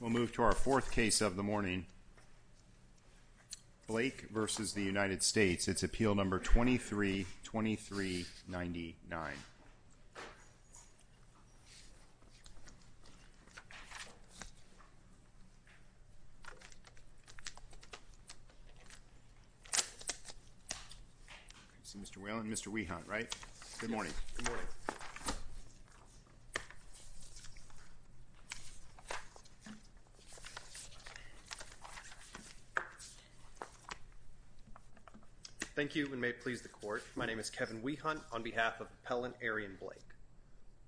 We'll move to our fourth case of the morning. Blake v. United States. It's Appeal No. 23-2399. Mr. Whelan, Mr. Wehant, right? Good morning. Thank you and may it please the court, my name is Kevin Wehant on behalf of Appellant Arrion Blake.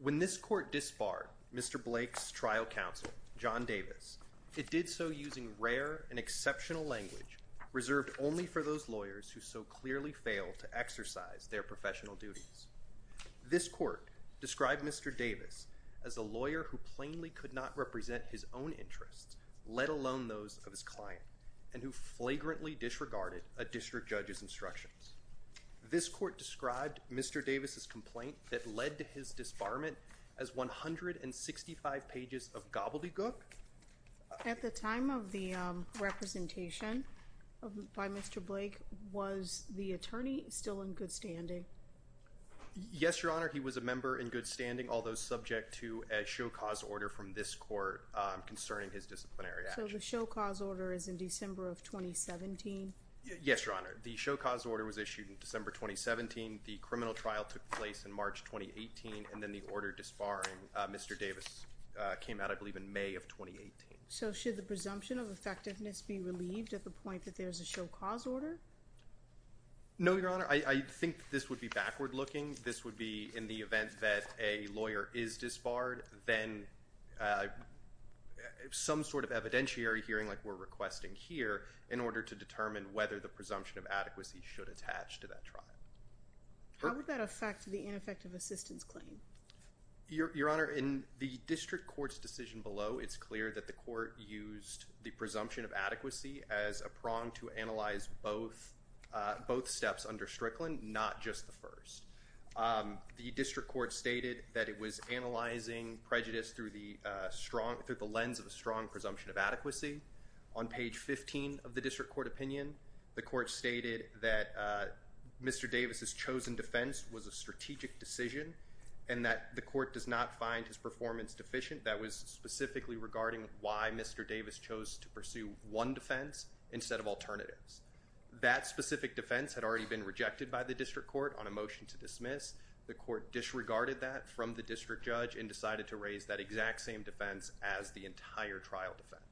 When this court disbarred Mr. Blake's trial counsel, John Davis, it did so using rare and exceptional language reserved only for those lawyers who so clearly fail to exercise their professional duties. This court described Mr. Davis as a lawyer who plainly could not represent his own interests, let alone those of his client, and who flagrantly disregarded a district judge's instructions. This court described Mr. Davis' complaint that led to his disbarment as 165 pages of gobbledygook. At the time of the representation by Mr. Blake, was the attorney still in good standing? Yes, Your Honor, he was a member in good standing, although subject to a show-cause order from this court concerning his disciplinary actions. So the show-cause order is in December of 2017? Yes, Your Honor. The show-cause order was issued in December 2017, the criminal trial took place in March 2018, and then the order disbarring Mr. Davis came out, I believe, in May of 2018. So should the presumption of effectiveness be relieved at the point that there's a show-cause order? No, Your Honor, I think this would be backward-looking. This would be in the event that a lawyer is disbarred, then some sort of evidentiary hearing like we're requesting here, in order to determine whether the presumption of adequacy should attach to that trial. How would that affect the ineffective assistance claim? Your Honor, in the district court's decision below, it's clear that the court used the presumption of adequacy as a prong to analyze both steps under Strickland, not just the first. The district court stated that it was analyzing prejudice through the lens of a strong presumption of adequacy. On page 15 of the district court opinion, the court stated that Mr. Davis' chosen defense was a strategic decision and that the court does not find his performance deficient. That was specifically regarding why Mr. Davis chose to pursue one defense instead of alternatives. That specific defense had already been rejected by the district court on a motion to dismiss. The court disregarded that from the district judge and decided to raise that exact same defense as the entire trial defense.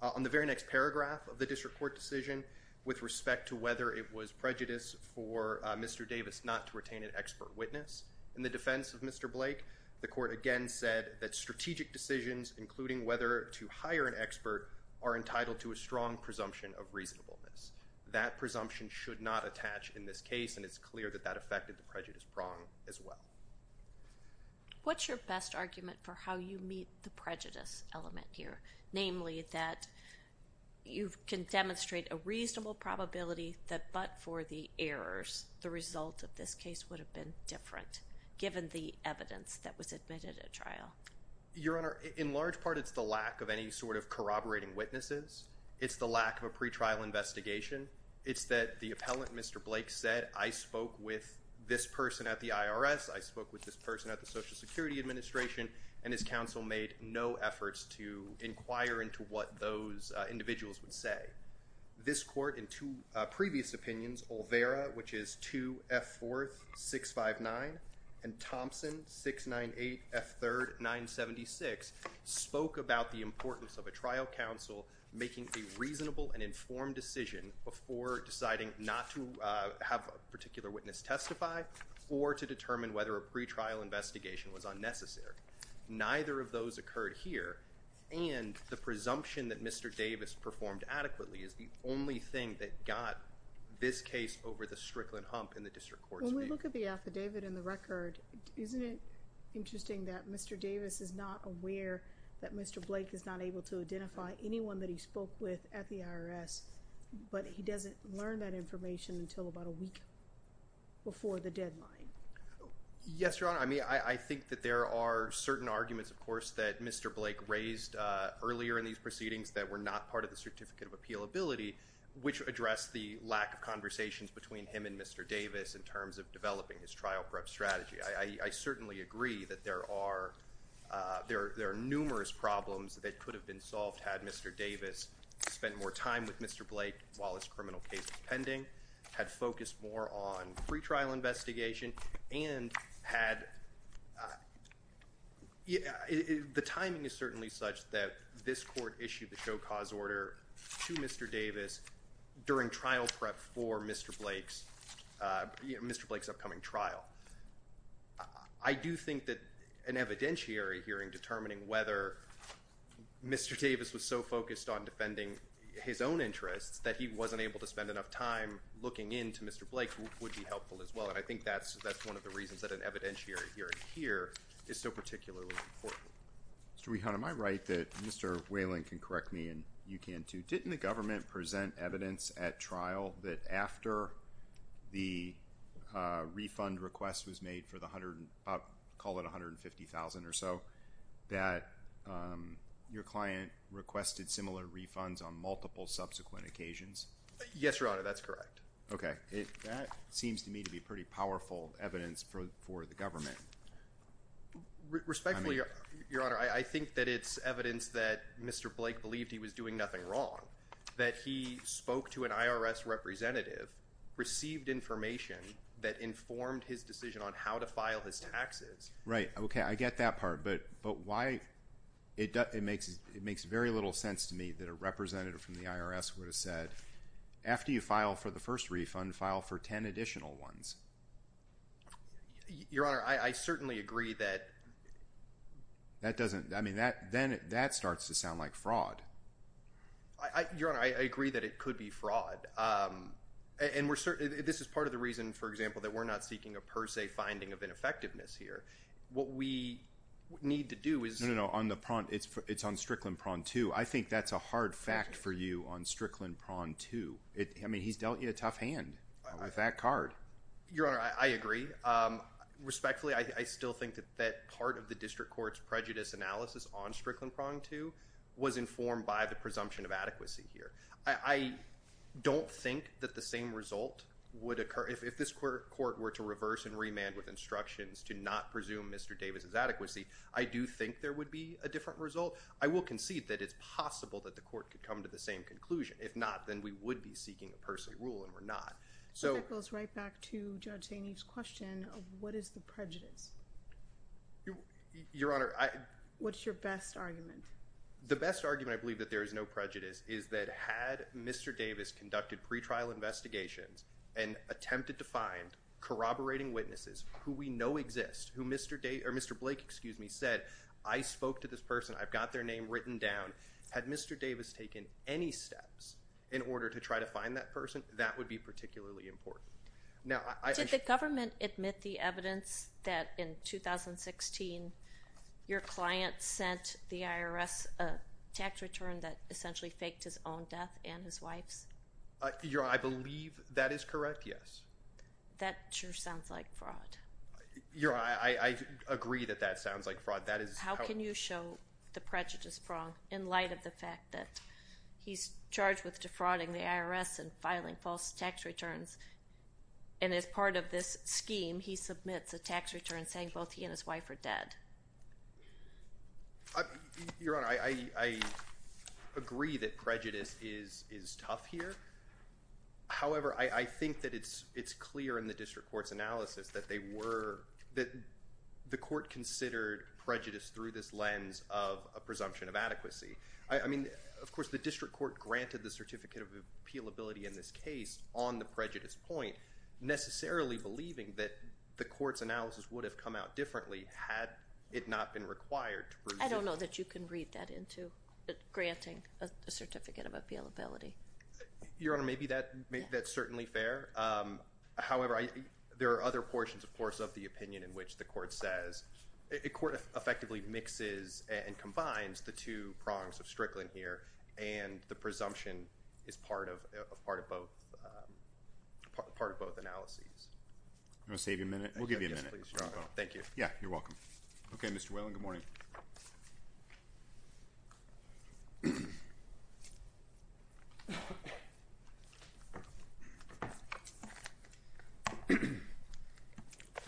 On the very next paragraph of the district court decision, with respect to whether it was prejudice for Mr. Davis not to retain an expert witness in the defense of Mr. Blake, the court again said that strategic decisions, including whether to hire an expert, are entitled to a strong presumption of reasonableness. That presumption should not attach in this case, and it's clear that that affected the prejudice prong as well. What's your best argument for how you meet the prejudice element here? Namely, that you can demonstrate a reasonable probability that but for the errors, the result of this case would have been different, given the evidence that was admitted at trial. Your Honor, in large part it's the lack of any sort of corroborating witnesses. It's the lack of a pretrial investigation. It's that the appellant, Mr. Blake, said, I spoke with this person at the IRS, I spoke with this person at the Social Security Administration, and his counsel made no efforts to inquire into what those individuals would say. This court, in two previous opinions, Olvera, which is 2F4-659, and Thompson, 698F3-976, spoke about the importance of a trial counsel making a reasonable and informed decision before deciding not to have a particular witness testify, or to determine whether a pretrial investigation was unnecessary. Neither of those occurred here, and the presumption that Mr. Davis performed adequately is the only thing that got this case over the strickland hump in the district court's view. When you look at the affidavit and the record, isn't it interesting that Mr. Davis is not aware that Mr. Blake is not able to identify anyone that he spoke with at the IRS, but he doesn't learn that information until about a week before the deadline? Yes, Your Honor. I mean, I think that there are certain arguments, of course, that Mr. Blake raised earlier in these proceedings that were not part of the Certificate of Appealability, which addressed the lack of conversations between him and Mr. Davis in terms of developing his trial prep strategy. I certainly agree that there are numerous problems that could have been solved had Mr. Davis spent more time with Mr. Blake while his criminal case was pending, had focused more on pretrial investigation, and had... The timing is certainly such that this court issued the show cause order to Mr. Davis during trial prep for Mr. Blake's upcoming trial. I do think that an evidentiary hearing determining whether Mr. Davis was so focused on defending his own interests that he wasn't able to spend enough time looking into Mr. Blake would be helpful as well, and I think that's one of the reasons that an evidentiary hearing here is so particularly important. Mr. Wehon, am I right that Mr. Whalen can correct me, and you can too, but didn't the government present evidence at trial that after the refund request was made for the, call it $150,000 or so, that your client requested similar refunds on multiple subsequent occasions? Yes, Your Honor, that's correct. Okay. That seems to me to be pretty powerful evidence for the government. Respectfully, Your Honor, I think that it's evidence that Mr. Blake believed he was doing nothing wrong, that he spoke to an IRS representative, received information that informed his decision on how to file his taxes. Right, okay, I get that part, but why, it makes very little sense to me that a representative from the IRS would have said, after you file for the first refund, file for ten additional ones. Your Honor, I certainly agree that… That doesn't, I mean, that starts to sound like fraud. Your Honor, I agree that it could be fraud, and this is part of the reason, for example, that we're not seeking a per se finding of ineffectiveness here. What we need to do is… No, no, no, on the, it's on Strickland Prawn 2. I think that's a hard fact for you on Strickland Prawn 2. I mean, he's dealt you a tough hand with that card. Your Honor, I agree. Respectfully, I still think that part of the district court's prejudice analysis on Strickland Prawn 2 was informed by the presumption of adequacy here. I don't think that the same result would occur, if this court were to reverse and remand with instructions to not presume Mr. Davis' adequacy, I do think there would be a different result. I will concede that it's possible that the court could come to the same conclusion. If not, then we would be seeking a per se rule, and we're not. That goes right back to Judge Saini's question of what is the prejudice. Your Honor, I… What's your best argument? The best argument, I believe, that there is no prejudice, is that had Mr. Davis conducted pretrial investigations and attempted to find corroborating witnesses, who we know exist, who Mr. Blake said, I spoke to this person, I've got their name written down. Had Mr. Davis taken any steps in order to try to find that person, that would be particularly important. Now, I… Did the government admit the evidence that in 2016, your client sent the IRS a tax return that essentially faked his own death and his wife's? Your Honor, I believe that is correct, yes. That sure sounds like fraud. Your Honor, I agree that that sounds like fraud. How can you show the prejudice wrong in light of the fact that he's charged with defrauding the IRS and filing false tax returns, and as part of this scheme, he submits a tax return saying both he and his wife are dead? Your Honor, I agree that prejudice is tough here. However, I think that it's clear in the district court's analysis that they were… that the court considered prejudice through this lens of a presumption of adequacy. I mean, of course, the district court granted the certificate of appealability in this case on the prejudice point, necessarily believing that the court's analysis would have come out differently had it not been required to prove… I don't know that you can read that into granting a certificate of appealability. Your Honor, maybe that's certainly fair. However, there are other portions, of course, of the opinion in which the court says… There are two prongs of Strickland here, and the presumption is part of both… part of both analyses. I'm going to save you a minute. We'll give you a minute. Thank you. Yeah, you're welcome. Okay, Mr. Whalen, good morning.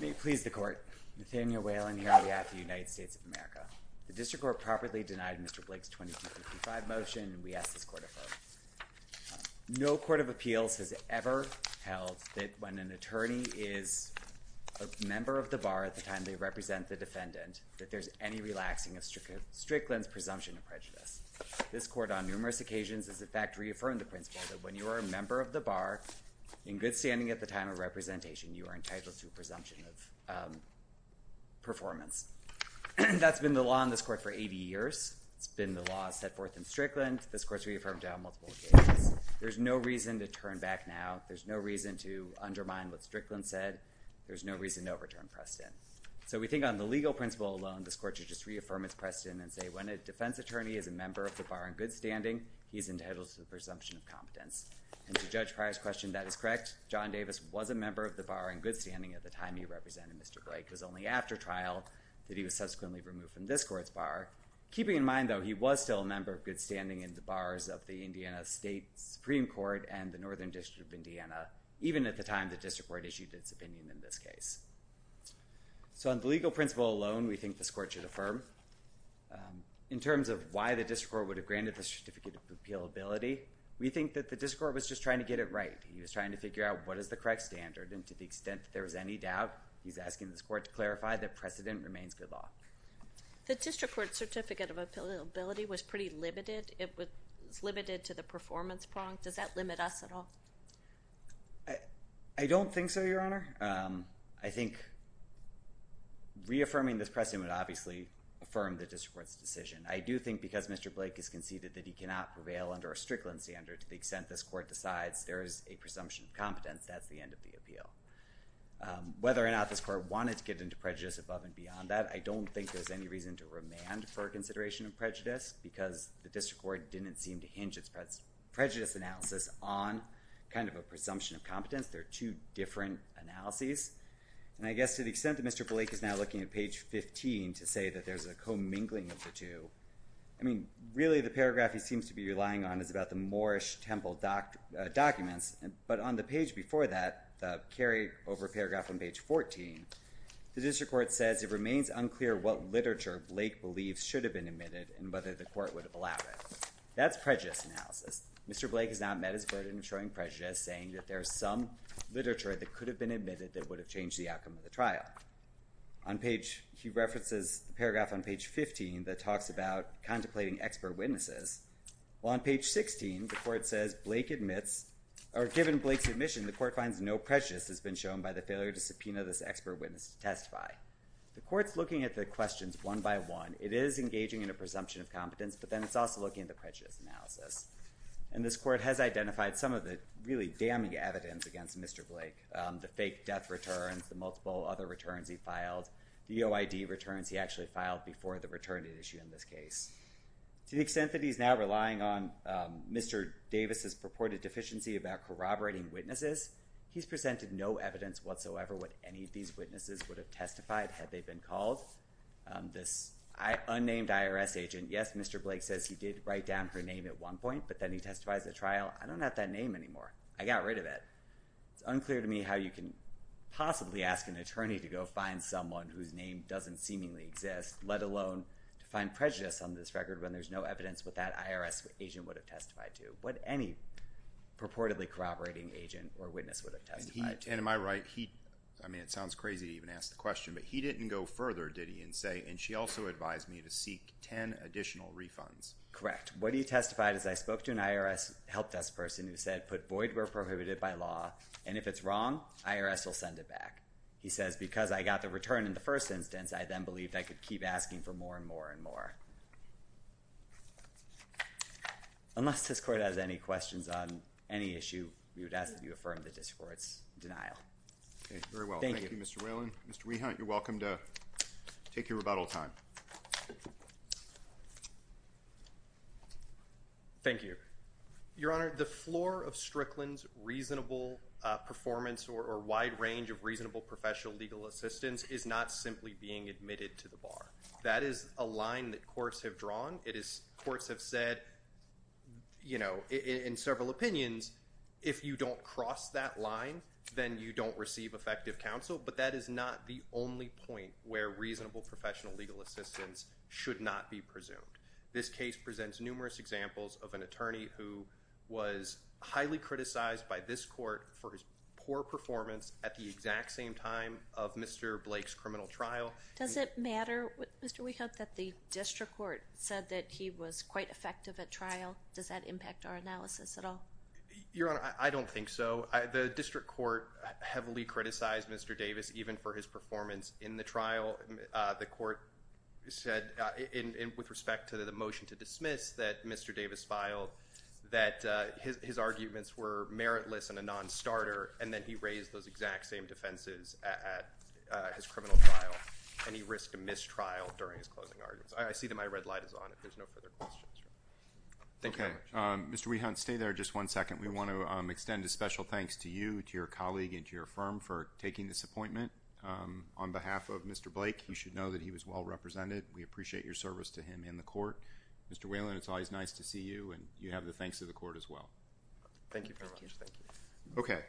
May it please the court. Nathaniel Whalen here on behalf of the United States of America. The district court properly denied Mr. Blake's 2255 motion, and we ask this court to affirm. No court of appeals has ever held that when an attorney is a member of the bar at the time they represent the defendant, that there's any relaxing of Strickland's presumption of prejudice. This court, on numerous occasions, has in fact reaffirmed the principle that when you are a member of the bar, in good standing at the time of representation, you are entitled to a presumption of performance. That's been the law in this court for 80 years. It's been the law set forth in Strickland. This court's reaffirmed that on multiple occasions. There's no reason to turn back now. There's no reason to undermine what Strickland said. There's no reason to overturn Preston. So we think on the legal principle alone, this court should just reaffirm its precedent and say when a defense attorney is a member of the bar in good standing, he's entitled to the presumption of competence. And to Judge Pryor's question, that is correct. John Davis was a member of the bar in good standing at the time he represented Mr. Blake. It was only after trial that he was subsequently removed from this court's bar. Keeping in mind, though, he was still a member of good standing in the bars of the Indiana State Supreme Court and the Northern District of Indiana, even at the time the district court issued its opinion in this case. So on the legal principle alone, we think this court should affirm. In terms of why the district court would have granted the certificate of appealability, we think that the district court was just trying to get it right. He was trying to figure out what is the correct standard. And to the extent that there was any doubt, we would clarify that precedent remains good law. The district court certificate of appealability was pretty limited. It was limited to the performance prong. Does that limit us at all? I don't think so, Your Honor. I think reaffirming this precedent would obviously affirm the district court's decision. I do think because Mr. Blake has conceded that he cannot prevail under a Strickland standard there is a presumption of competence, that's the end of the appeal. Whether or not this court wanted to get into prejudice above and beyond that, I don't think there's any reason to remand for consideration of prejudice because the district court didn't seem to hinge its prejudice analysis on kind of a presumption of competence. There are two different analyses. And I guess to the extent that Mr. Blake is now looking at page 15 to say that there's a commingling of the two, I mean, really the paragraph he seems to be relying on is about the Moorish temple documents. But on the page before that, I'm sorry, over paragraph on page 14, the district court says it remains unclear what literature Blake believes should have been admitted and whether the court would have allowed it. That's prejudice analysis. Mr. Blake has not met his burden in showing prejudice, saying that there's some literature that could have been admitted that would have changed the outcome of the trial. He references the paragraph on page 15 that talks about contemplating expert witnesses. Well, on page 16, the court says, given Blake's admission, no evidence has been shown by the failure to subpoena this expert witness to testify. The court's looking at the questions one by one. It is engaging in a presumption of competence, but then it's also looking at the prejudice analysis. And this court has identified some of the really damning evidence against Mr. Blake, the fake death returns, the multiple other returns he filed, the OID returns he actually filed before the returning issue in this case. To the extent that he's now relying on Mr. Davis's purported deficiency about corroborating witnesses, there's no evidence whatsoever what any of these witnesses would have testified had they been called. This unnamed IRS agent, yes, Mr. Blake says he did write down her name at one point, but then he testifies at trial. I don't have that name anymore. I got rid of it. It's unclear to me how you can possibly ask an attorney to go find someone whose name doesn't seemingly exist, let alone to find prejudice on this record when there's no evidence what that IRS agent would have testified to, right? I mean, it sounds crazy to even ask the question, but he didn't go further, did he, and say, and she also advised me to seek 10 additional refunds. Correct. What he testified is I spoke to an IRS help desk person who said put void where prohibited by law, and if it's wrong, IRS will send it back. He says because I got the return in the first instance, I then believed I could keep asking for more and more and more. Unless this court has any questions on any issue, I'm happy to respond. Okay, very well. Thank you, Mr. Whalen. Mr. Wehunt, you're welcome to take your rebuttal time. Thank you, Your Honor. The floor of Strickland's reasonable performance or wide range of reasonable professional legal assistance is not simply being admitted to the bar. That is a line that courts have drawn. It is courts have said, you know, in several opinions, if you don't cross that line, you don't receive effective counsel. But that is not the only point where reasonable professional legal assistance should not be presumed. This case presents numerous examples of an attorney who was highly criticized by this court for his poor performance at the exact same time of Mr. Blake's criminal trial. Does it matter, Mr. Wehunt, that the district court said that he was quite effective at trial? Does that impact our analysis at all? Your Honor, I don't think so. He criticized Mr. Davis even for his performance in the trial. The court said, with respect to the motion to dismiss, that Mr. Davis filed, that his arguments were meritless and a non-starter, and then he raised those exact same defenses at his criminal trial, and he risked a mistrial during his closing arguments. I see that my red light is on if there's no further questions. Thank you very much. Mr. Wehunt, stay there just one second. We want to extend a special thanks to you, to your colleague, and to your firm for taking this appointment. On behalf of Mr. Blake, you should know that he was well represented. We appreciate your service to him and the court. Mr. Wehunt, it's always nice to see you, and you have the thanks of the court as well. Thank you very much. Okay.